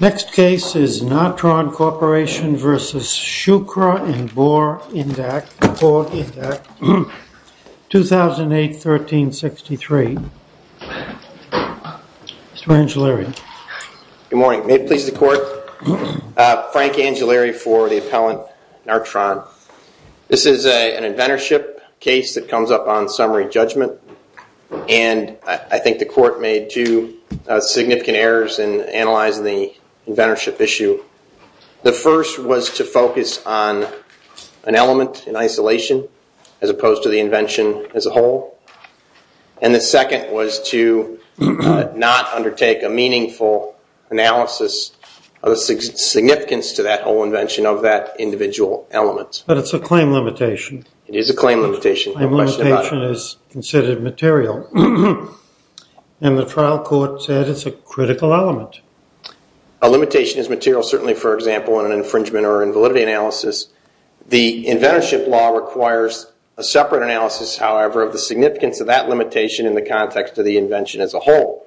Next case is Nartron Corporation v. Schukra and Bohr-Indak, 2008, 1363. Mr. Angellari. Good morning. May it please the Court. Frank Angellari for the appellant, Nartron. This is an inventorship case that comes up on summary judgment, and I think the Court made two significant errors in analyzing the inventorship issue. The first was to focus on an element in isolation as opposed to the invention as a whole, and the second was to not undertake a meaningful analysis of the significance to that whole invention of that individual element. But it's a claim limitation. It is a claim limitation. A limitation is considered material, and the trial court said it's a critical element. A limitation is material, certainly, for example, in an infringement or invalidity analysis. The inventorship law requires a separate analysis, however, of the significance of that limitation in the context of the invention as a whole.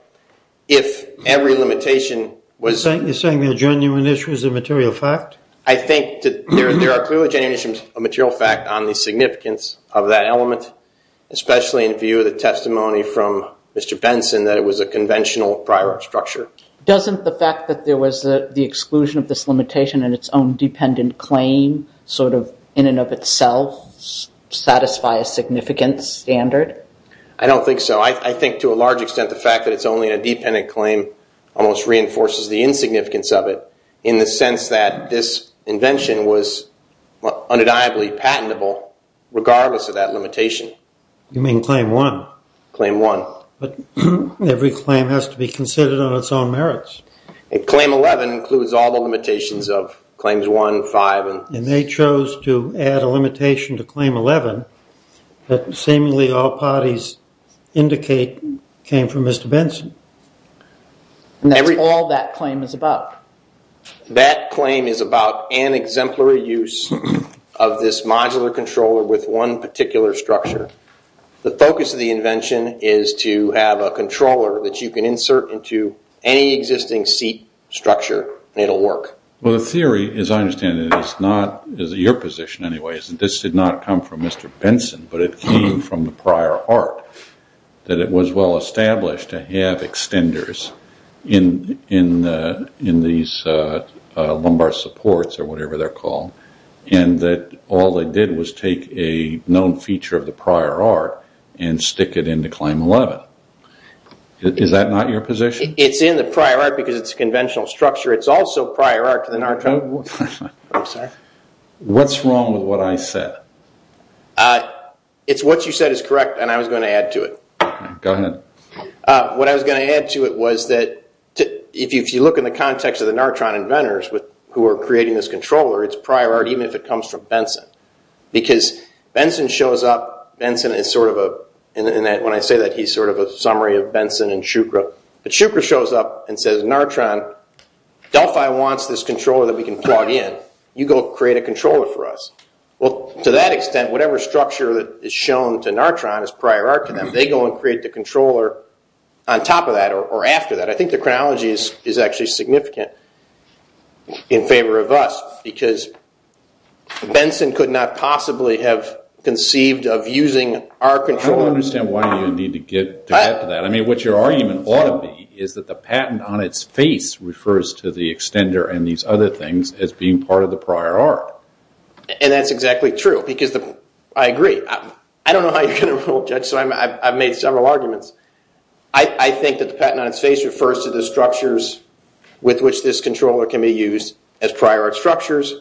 If every limitation was— You're saying the genuine issue is a material fact? I think that there are clearly genuine issues of material fact on the significance of that element, especially in view of the testimony from Mr. Benson that it was a conventional prior art structure. Doesn't the fact that there was the exclusion of this limitation and its own dependent claim sort of in and of itself satisfy a significant standard? I don't think so. I think to a large extent the fact that it's only a dependent claim almost reinforces the insignificance of it in the sense that this invention was undeniably patentable regardless of that limitation. You mean Claim 1? Claim 1. But every claim has to be considered on its own merits. Claim 11 includes all the limitations of Claims 1, 5, and— And they chose to add a limitation to Claim 11 that seemingly all parties indicate came from Mr. Benson. And that's all that claim is about? That claim is about an exemplary use of this modular controller with one particular structure. The focus of the invention is to have a controller that you can insert into any existing seat structure and it'll work. Well, the theory, as I understand it, is not—is your position anyway, is that this did not come from Mr. Benson but it came from the prior art, that it was well-established to have extenders in these lumbar supports or whatever they're called, and that all they did was take a known feature of the prior art and stick it into Claim 11. Is that not your position? It's in the prior art because it's a conventional structure. It's also prior art to the— I'm sorry? What's wrong with what I said? It's what you said is correct, and I was going to add to it. Go ahead. What I was going to add to it was that if you look in the context of the Nartron inventors who are creating this controller, it's prior art even if it comes from Benson. Because Benson shows up—Benson is sort of a—and when I say that, he's sort of a summary of Benson and Shukra. But Shukra shows up and says, Nartron, Delphi wants this controller that we can plug in. You go create a controller for us. Well, to that extent, whatever structure that is shown to Nartron is prior art to them. They go and create the controller on top of that or after that. I think the chronology is actually significant in favor of us because Benson could not possibly have conceived of using our controller. I don't understand why you need to get to that. What your argument ought to be is that the patent on its face refers to the extender and these other things as being part of the prior art. And that's exactly true because—I agree. I don't know how you're going to rule, Judge, so I've made several arguments. I think that the patent on its face refers to the structures with which this controller can be used as prior art structures.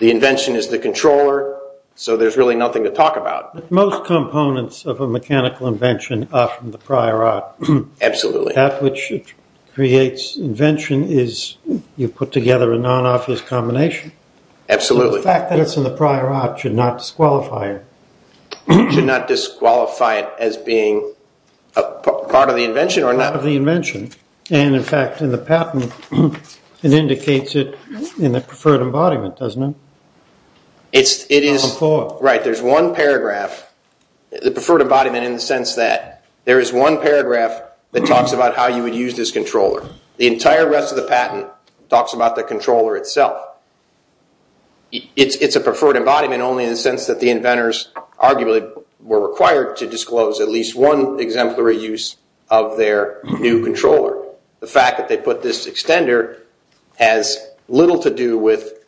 The invention is the controller, so there's really nothing to talk about. Most components of a mechanical invention are from the prior art. Absolutely. And that which creates invention is you put together a non-obvious combination. Absolutely. The fact that it's in the prior art should not disqualify it. Should not disqualify it as being part of the invention or not. Part of the invention. And, in fact, in the patent, it indicates it in the preferred embodiment, doesn't it? It is— Of the core. Right. There's one paragraph—the preferred embodiment in the sense that there is one paragraph that talks about how you would use this controller. The entire rest of the patent talks about the controller itself. It's a preferred embodiment only in the sense that the inventors arguably were required to disclose at least one exemplary use of their new controller. The fact that they put this extender has little to do with,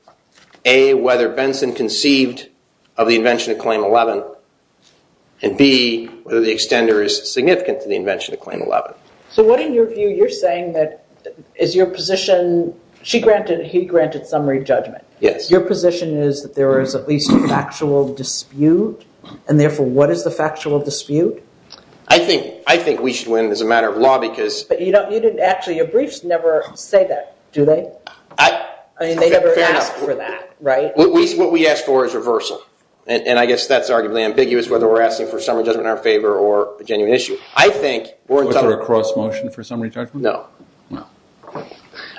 A, whether Benson conceived of the invention of Claim 11, and, B, whether the extender is significant to the invention of Claim 11. So what, in your view, you're saying that is your position—she granted—he granted summary judgment. Yes. Your position is that there is at least a factual dispute, and, therefore, what is the factual dispute? I think we should win as a matter of law because— But you didn't actually—your briefs never say that, do they? I mean, they never ask for that, right? What we ask for is reversal. And I guess that's arguably ambiguous, whether we're asking for summary judgment in our favor or a genuine issue. Was there a cross-motion for summary judgment? No. No.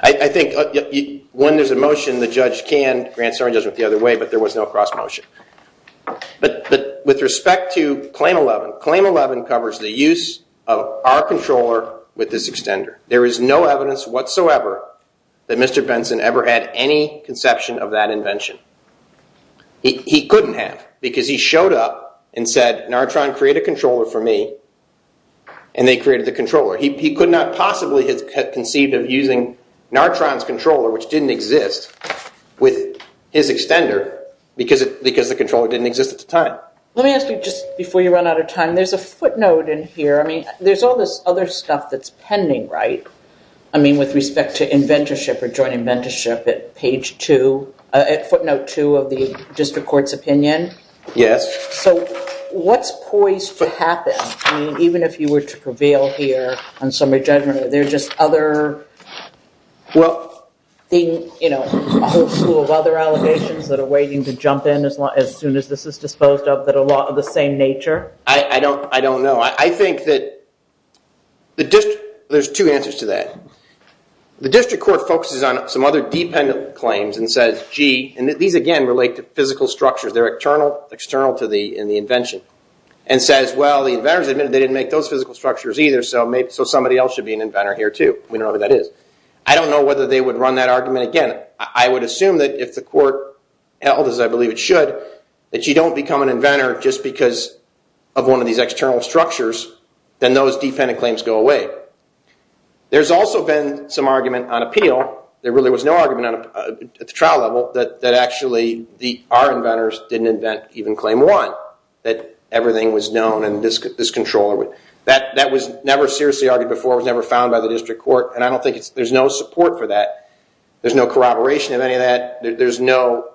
I think when there's a motion, the judge can grant summary judgment the other way, but there was no cross-motion. But with respect to Claim 11, Claim 11 covers the use of our controller with this extender. There is no evidence whatsoever that Mr. Benson ever had any conception of that invention. He couldn't have because he showed up and said, Nartron, create a controller for me, and they created the controller. He could not possibly have conceived of using Nartron's controller, which didn't exist, with his extender because the controller didn't exist at the time. Let me ask you, just before you run out of time, there's a footnote in here. I mean, there's all this other stuff that's pending, right? I mean, with respect to inventorship or joint inventorship at footnote 2 of the district court's opinion. Yes. So what's poised to happen? I mean, even if you were to prevail here on summary judgment, are there just other, well, a whole slew of other allegations that are waiting to jump in as soon as this is disposed of that are of the same nature? I don't know. I think that the district, there's two answers to that. The district court focuses on some other dependent claims and says, gee, and these, again, relate to physical structures. They're external to the invention, and says, well, the inventors admitted they didn't make those physical structures either, so somebody else should be an inventor here, too. We don't know who that is. I don't know whether they would run that argument again. I would assume that if the court held, as I believe it should, that you don't become an inventor just because of one of these external structures, then those dependent claims go away. There's also been some argument on appeal. There really was no argument at the trial level that actually our inventors didn't invent even Claim 1, that everything was known and this controller would. That was never seriously argued before. It was never found by the district court, and I don't think there's no support for that. There's no corroboration of any of that. There's no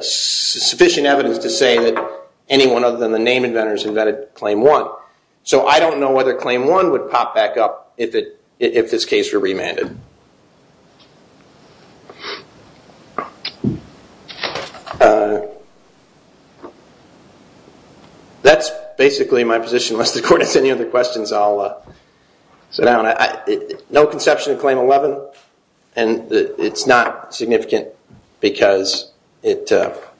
sufficient evidence to say that anyone other than the name inventors invented Claim 1. So I don't know whether Claim 1 would pop back up if this case were remanded. That's basically my position. Unless the court has any other questions, I'll sit down. No conception of Claim 11, and it's not significant because it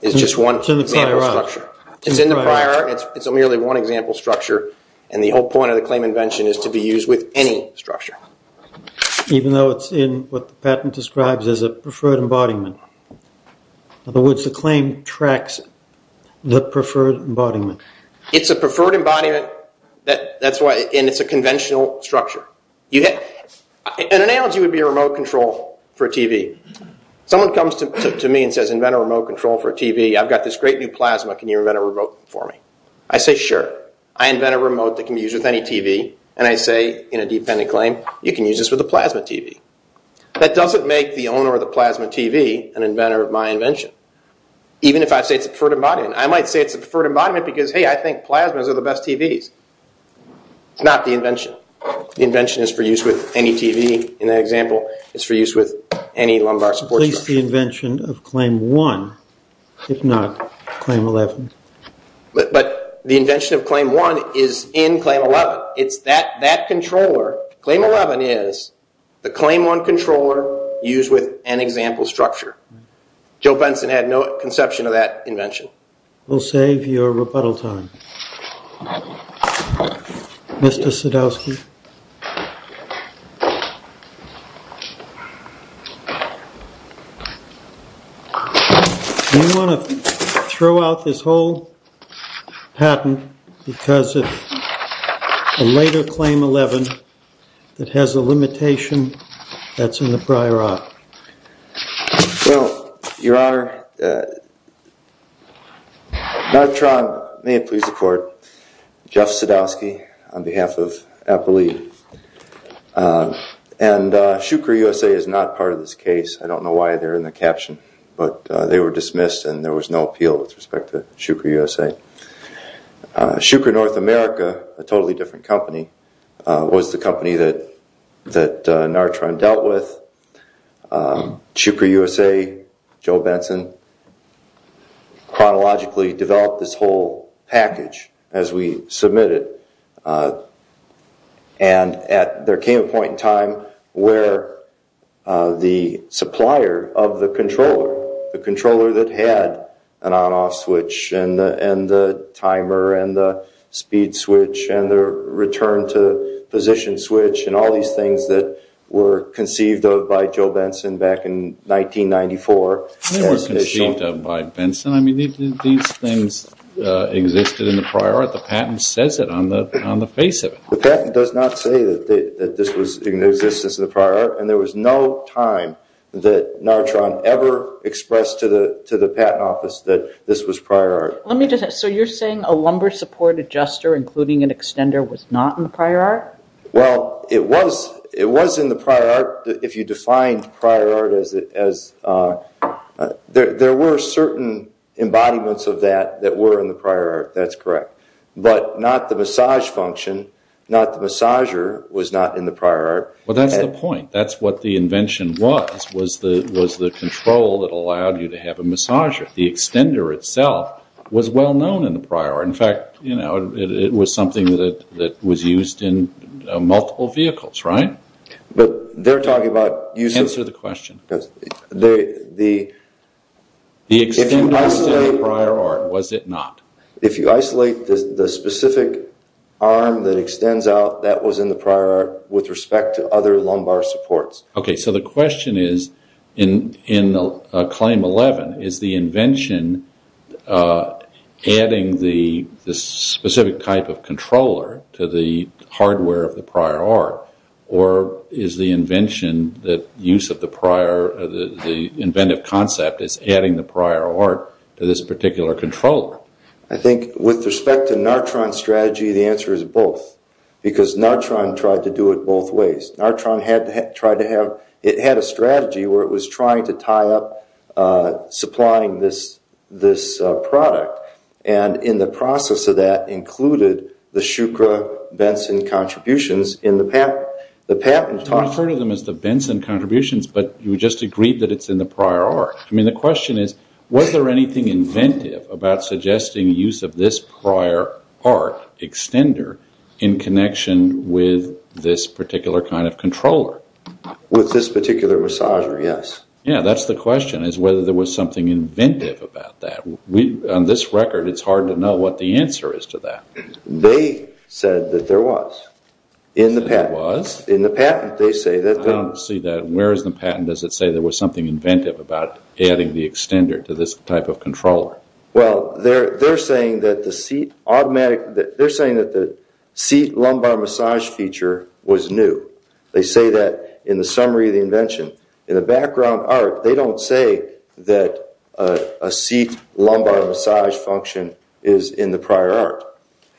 is just one example structure. It's in the prior. It's a merely one example structure, and the whole point of the claim invention is to be used with any structure. It's a preferred embodiment, and it's a conventional structure. An analogy would be a remote control for a TV. Someone comes to me and says, I've got this great new plasma. Can you invent a remote for me? I say, sure. I invent a remote that can be used with any TV, and I say in a dependent claim, you can use this with a plasma TV. That doesn't make the owner of the plasma TV an inventor of my invention, even if I say it's a preferred embodiment. I might say it's a preferred embodiment because, hey, I think plasmas are the best TVs. It's not the invention. The invention is for use with any TV. In that example, it's for use with any lumbar support structure. It's not claim 11. But the invention of claim 1 is in claim 11. It's that controller. Claim 11 is the claim 1 controller used with an example structure. Joe Benson had no conception of that invention. We'll save your rebuttal time. Mr. Sadowski. Do you want to throw out this whole patent because of a later claim 11 that has a limitation that's in the prior op? Well, Your Honor, may it please the Court, Jeff Sadowski on behalf of Apple Lead. And Shukri USA is not part of this case. I don't know why they're in the caption, but they were dismissed and there was no appeal with respect to Shukri USA. Shukri North America, a totally different company, was the company that Nartron dealt with. Shukri USA, Joe Benson, chronologically developed this whole package as we submit it. And there came a point in time where the supplier of the controller, the controller that had an on-off switch and the timer and the speed switch and the return to position switch and all these things that were conceived of by Joe Benson back in 1994. They were conceived of by Benson. I mean, these things existed in the prior op. The patent says it on the face of it. The patent does not say that this was in existence in the prior op and there was no time that Nartron ever expressed to the patent office that this was prior op. So you're saying a lumbar support adjuster, including an extender, was not in the prior op? Well, it was in the prior op if you define prior op as there were certain embodiments of that that were in the prior op. That's correct. But not the massage function, not the massager, was not in the prior op. Well, that's the point. That's what the invention was, was the control that allowed you to have a massager. The extender itself was well known in the prior op. In fact, it was something that was used in multiple vehicles, right? But they're talking about... Answer the question. The... The extender was in the prior op, was it not? If you isolate the specific arm that extends out, that was in the prior op with respect to other lumbar supports. Okay, so the question is, in Claim 11, is the invention adding the specific type of controller to the hardware of the prior op, or is the invention, the use of the prior, the inventive concept is adding the prior op to this particular controller? I think with respect to Nartron's strategy, the answer is both, because Nartron tried to do it both ways. Nartron had tried to have, it had a strategy where it was trying to tie up supplying this product, and in the process of that included the Shukra Benson contributions in the patent. We refer to them as the Benson contributions, but you just agreed that it's in the prior op. I mean, the question is, was there anything inventive about suggesting use of this prior op extender in connection with this particular kind of controller? With this particular massager, yes. Yeah, that's the question, is whether there was something inventive about that. On this record, it's hard to know what the answer is to that. They said that there was in the patent. In the patent, they say that there was. I don't see that. Where is the patent? Does it say there was something inventive about adding the extender to this type of controller? Well, they're saying that the seat lumbar massage feature was new. They say that in the summary of the invention. In the background art, they don't say that a seat lumbar massage function is in the prior art.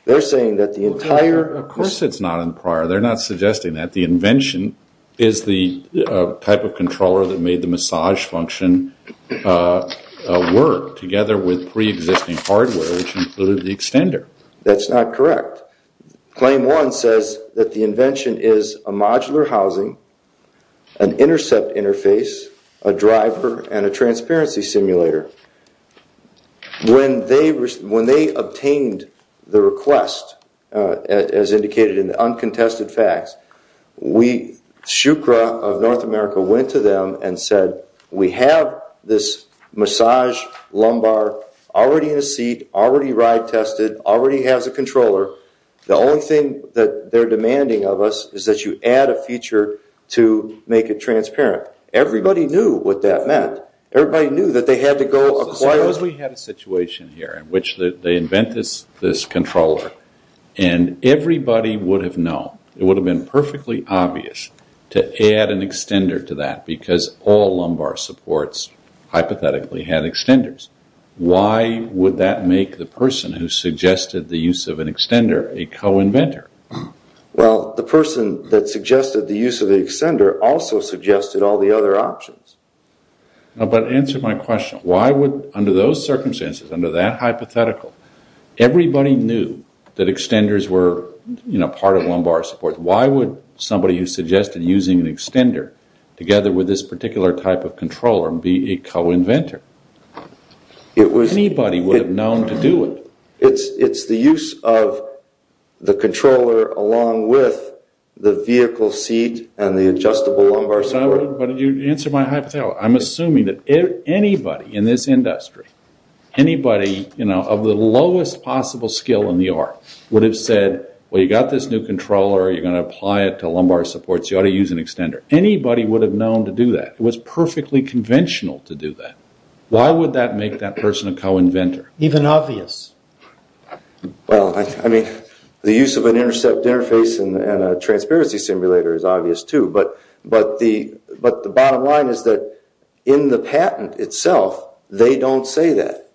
They're saying that the entire- Of course it's not in the prior. They're not suggesting that. The invention is the type of controller that made the massage function work, together with pre-existing hardware, which included the extender. That's not correct. Claim one says that the invention is a modular housing, an intercept interface, a driver, and a transparency simulator. When they obtained the request, as indicated in the uncontested facts, Shukra of North America went to them and said, We have this massage lumbar already in a seat, already ride tested, already has a controller. The only thing that they're demanding of us is that you add a feature to make it transparent. Everybody knew what that meant. Everybody knew that they had to go acquire- Suppose we had a situation here in which they invent this controller, and everybody would have known. It would have been perfectly obvious to add an extender to that, because all lumbar supports hypothetically had extenders. Why would that make the person who suggested the use of an extender a co-inventor? Well, the person that suggested the use of the extender also suggested all the other options. But answer my question. Why would, under those circumstances, under that hypothetical, everybody knew that extenders were part of lumbar support. Why would somebody who suggested using an extender together with this particular type of controller be a co-inventor? Anybody would have known to do it. It's the use of the controller along with the vehicle seat and the adjustable lumbar support. But answer my hypothetical. I'm assuming that anybody in this industry, anybody of the lowest possible skill in the art, would have said, well, you've got this new controller. You're going to apply it to lumbar supports. You ought to use an extender. Anybody would have known to do that. It was perfectly conventional to do that. Why would that make that person a co-inventor? Even obvious. Well, I mean, the use of an intercept interface and a transparency simulator is obvious, too. But the bottom line is that in the patent itself, they don't say that.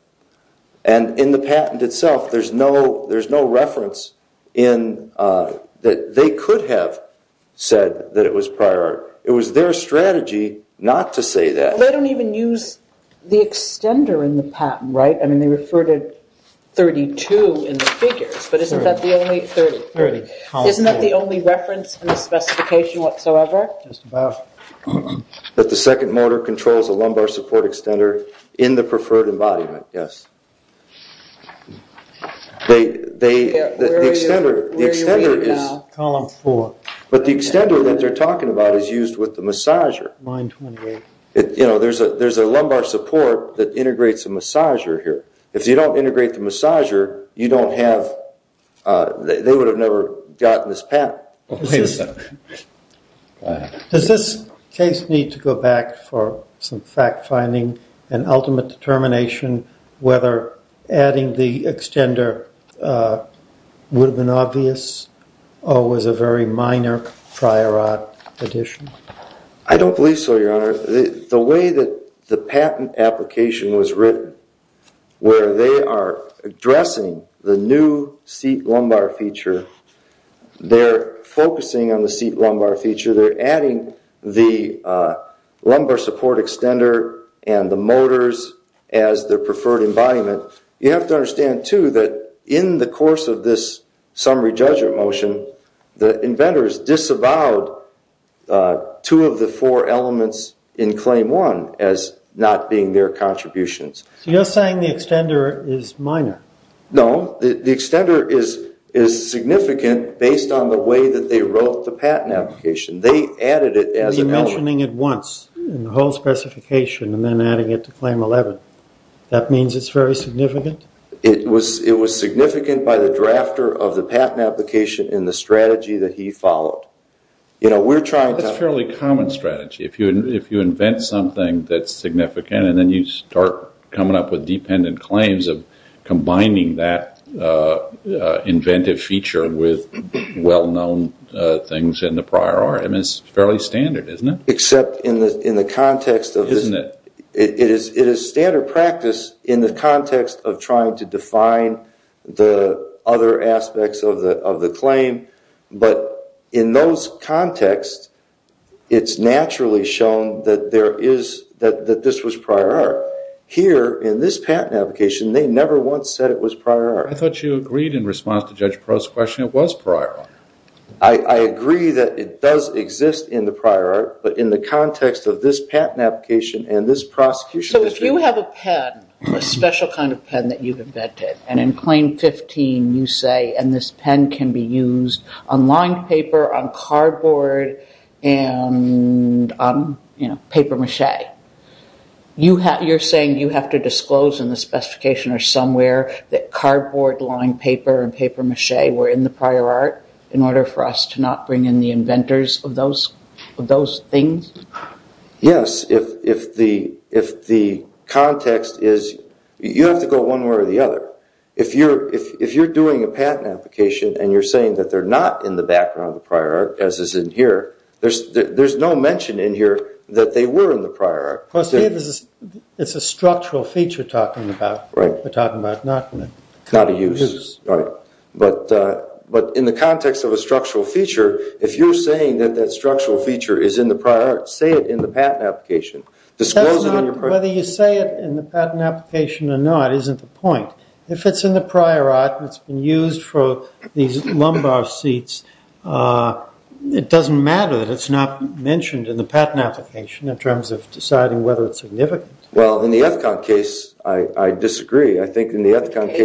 And in the patent itself, there's no reference that they could have said that it was prior art. It was their strategy not to say that. They don't even use the extender in the patent, right? I mean, they refer to 32 in the figures. But isn't that the only 30? No clarification whatsoever? That the second motor controls a lumbar support extender in the preferred embodiment, yes. The extender is used with the massager. You know, there's a lumbar support that integrates a massager here. If you don't integrate the massager, they would have never gotten this patent. Wait a second. Does this case need to go back for some fact-finding and ultimate determination whether adding the extender would have been obvious or was a very minor prior art addition? I don't believe so, Your Honor. The way that the patent application was written, where they are addressing the new seat lumbar feature, they're focusing on the seat lumbar feature. They're adding the lumbar support extender and the motors as their preferred embodiment. You have to understand, too, that in the course of this summary judgment motion, the inventors disavowed two of the four elements in Claim 1 as not being their contributions. So you're saying the extender is minor? No. The extender is significant based on the way that they wrote the patent application. They added it as an element. You're mentioning it once in the whole specification and then adding it to Claim 11. That means it's very significant? It was significant by the drafter of the patent application and the strategy that he followed. That's a fairly common strategy. If you invent something that's significant and then you start coming up with dependent claims of combining that inventive feature with well-known things in the prior art, it's fairly standard, isn't it? Except in the context of this. Isn't it? It is standard practice in the context of trying to define the other aspects of the claim. But in those contexts, it's naturally shown that this was prior art. Here, in this patent application, they never once said it was prior art. I thought you agreed in response to Judge Perot's question it was prior art. I agree that it does exist in the prior art, but in the context of this patent application and this prosecution... If you have a pen, a special kind of pen that you've invented, and in Claim 15 you say, and this pen can be used on lined paper, on cardboard, and on paper mache, you're saying you have to disclose in the specification or somewhere that cardboard, lined paper, and paper mache were in the prior art in order for us to not bring in the inventors of those things? Yes, if the context is you have to go one way or the other. If you're doing a patent application and you're saying that they're not in the background of the prior art, as is in here, there's no mention in here that they were in the prior art. It's a structural feature we're talking about, not a use. But in the context of a structural feature, if you're saying that that structural feature is in the prior art, say it in the patent application. Whether you say it in the patent application or not isn't the point. If it's in the prior art and it's been used for these lumbar seats, it doesn't matter that it's not mentioned in the patent application in terms of deciding whether it's significant. Well, in the Ethicon case, I disagree. I think in the Ethicon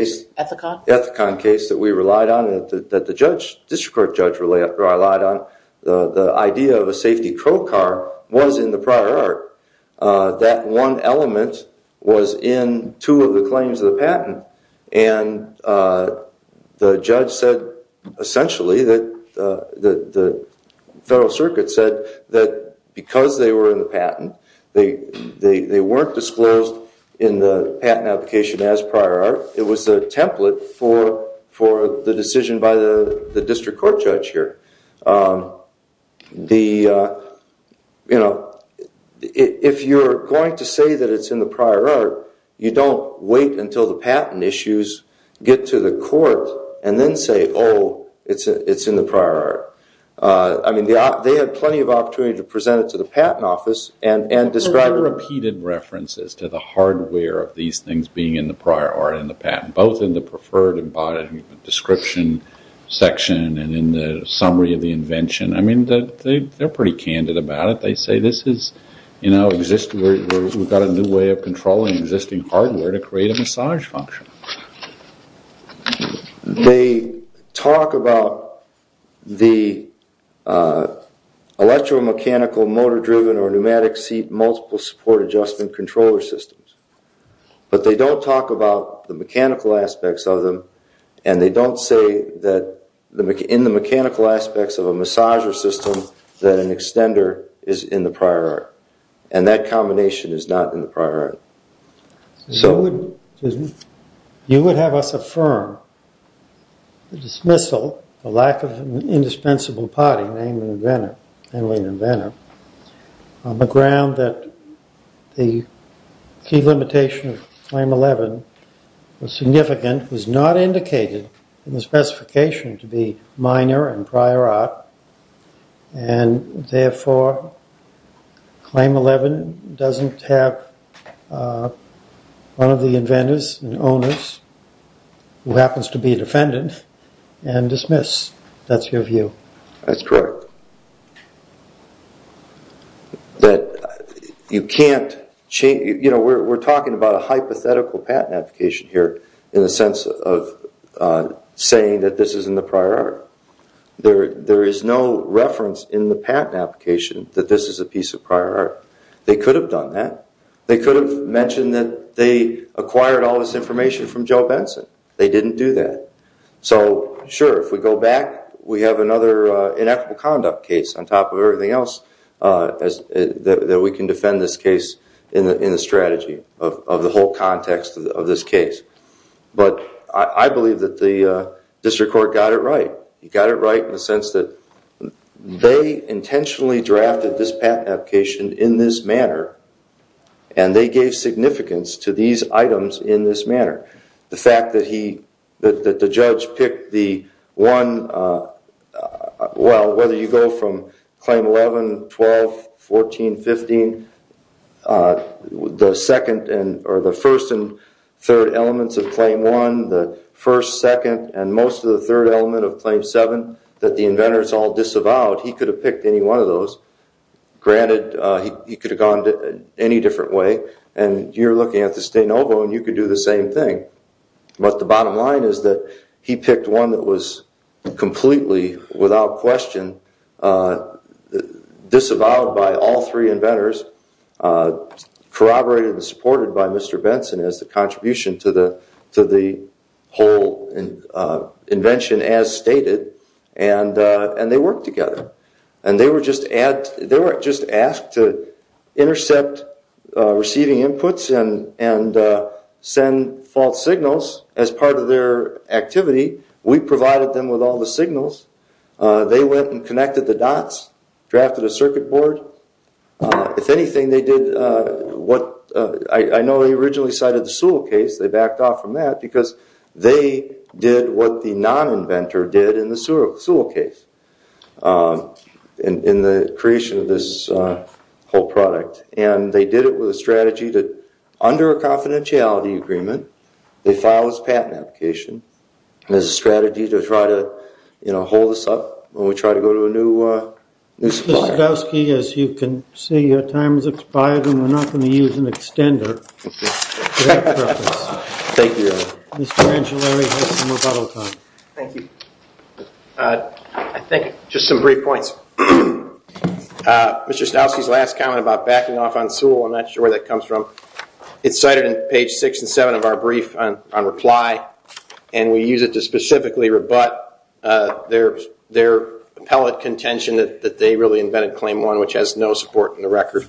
case that we relied on and that the district court judge relied on, the idea of a safety crow car was in the prior art. That one element was in two of the claims of the patent, and the judge said essentially that the Federal Circuit said that because they were in the patent, they weren't disclosed in the patent application as prior art. It was a template for the decision by the district court judge here. If you're going to say that it's in the prior art, you don't wait until the patent issues get to the court and then say, oh, it's in the prior art. They had plenty of opportunity to present it to the patent office and describe it. There are repeated references to the hardware of these things being in the prior art and the patent, both in the preferred embodied description section and in the summary of the invention. They're pretty candid about it. They say we've got a new way of controlling existing hardware to create a massage function. They talk about the electromechanical motor-driven or pneumatic seat multiple support adjustment controller systems, but they don't talk about the mechanical aspects of them, and they don't say that in the mechanical aspects of a massager system that an extender is in the prior art, and that combination is not in the prior art. You would have us affirm the dismissal, the lack of an indispensable party, namely an inventor, on the ground that the key limitation of Claim 11 was significant, was not indicated in the specification to be minor in prior art, and therefore Claim 11 doesn't have one of the inventors and owners who happens to be a defendant and dismiss. That's your view. That's correct. We're talking about a hypothetical patent application here in the sense of saying that this is in the prior art. There is no reference in the patent application that this is a piece of prior art. They could have done that. They could have mentioned that they acquired all this information from Joe Benson. They didn't do that. So, sure, if we go back, we have another ineffable conduct case on top of everything else that we can defend this case in the strategy of the whole context of this case. But I believe that the district court got it right. It got it right in the sense that they intentionally drafted this patent application in this manner, and they gave significance to these items in this manner. The fact that the judge picked the one, well, whether you go from Claim 11, 12, 14, 15, the second or the first and third elements of Claim 1, the first, second, and most of the third element of Claim 7 that the inventors all disavowed, he could have picked any one of those. Granted, he could have gone any different way, and you're looking at the Stanovo, and you could do the same thing. But the bottom line is that he picked one that was completely without question disavowed by all three inventors, corroborated and supported by Mr. Benson as the contribution to the whole invention as stated, and they worked together. They were just asked to intercept receiving inputs and send false signals as part of their activity. We provided them with all the signals. They went and connected the dots, drafted a circuit board. If anything, they did what I know he originally cited the Sewell case. They backed off from that because they did what the non-inventor did in the Sewell case. In the creation of this whole product, and they did it with a strategy that under a confidentiality agreement, they filed this patent application as a strategy to try to hold us up when we try to go to a new supplier. Mr. Sadowski, as you can see, your time has expired, and we're not going to use an extender. Thank you. Mr. Angiolari has some rebuttal time. Thank you. I think just some brief points. Mr. Sadowski's last comment about backing off on Sewell, I'm not sure where that comes from. It's cited in page six and seven of our brief on reply, and we use it to specifically rebut their appellate contention that they really invented Claim 1, which has no support in the record.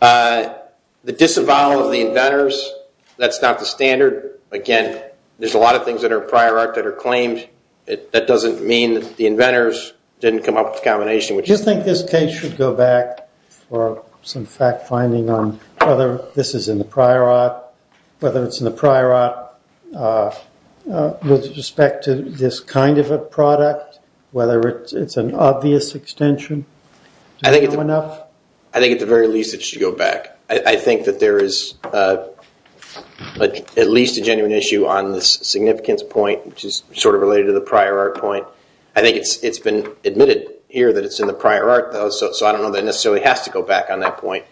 The disavowal of the inventors, that's not the standard. Again, there's a lot of things that are prior art that are claimed. That doesn't mean that the inventors didn't come up with a combination. Do you think this case should go back for some fact-finding on whether this is in the prior art, whether it's in the prior art with respect to this kind of a product, whether it's an obvious extension? I think at the very least it should go back. I think that there is at least a genuine issue on this significance point, which is sort of related to the prior art point. I think it's been admitted here that it's in the prior art, so I don't know that it necessarily has to go back on that point.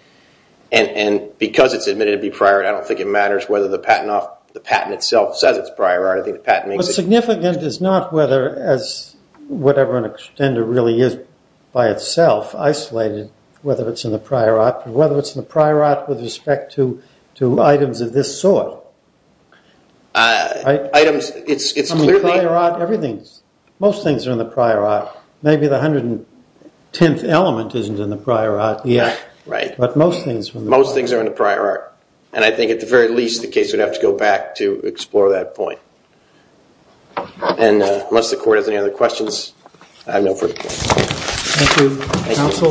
And because it's admitted to be prior art, I don't think it matters whether the patent itself says it's prior art. What's significant is not whether, as whatever an extender really is by itself, isolated whether it's in the prior art or whether it's in the prior art with respect to items of this sort. Items, it's clearly- Prior art, everything, most things are in the prior art. Maybe the 110th element isn't in the prior art yet. Right. But most things are in the prior art. And I think at the very least the case would have to go back to explore that point. And unless the court has any other questions, I have no further questions. Thank you.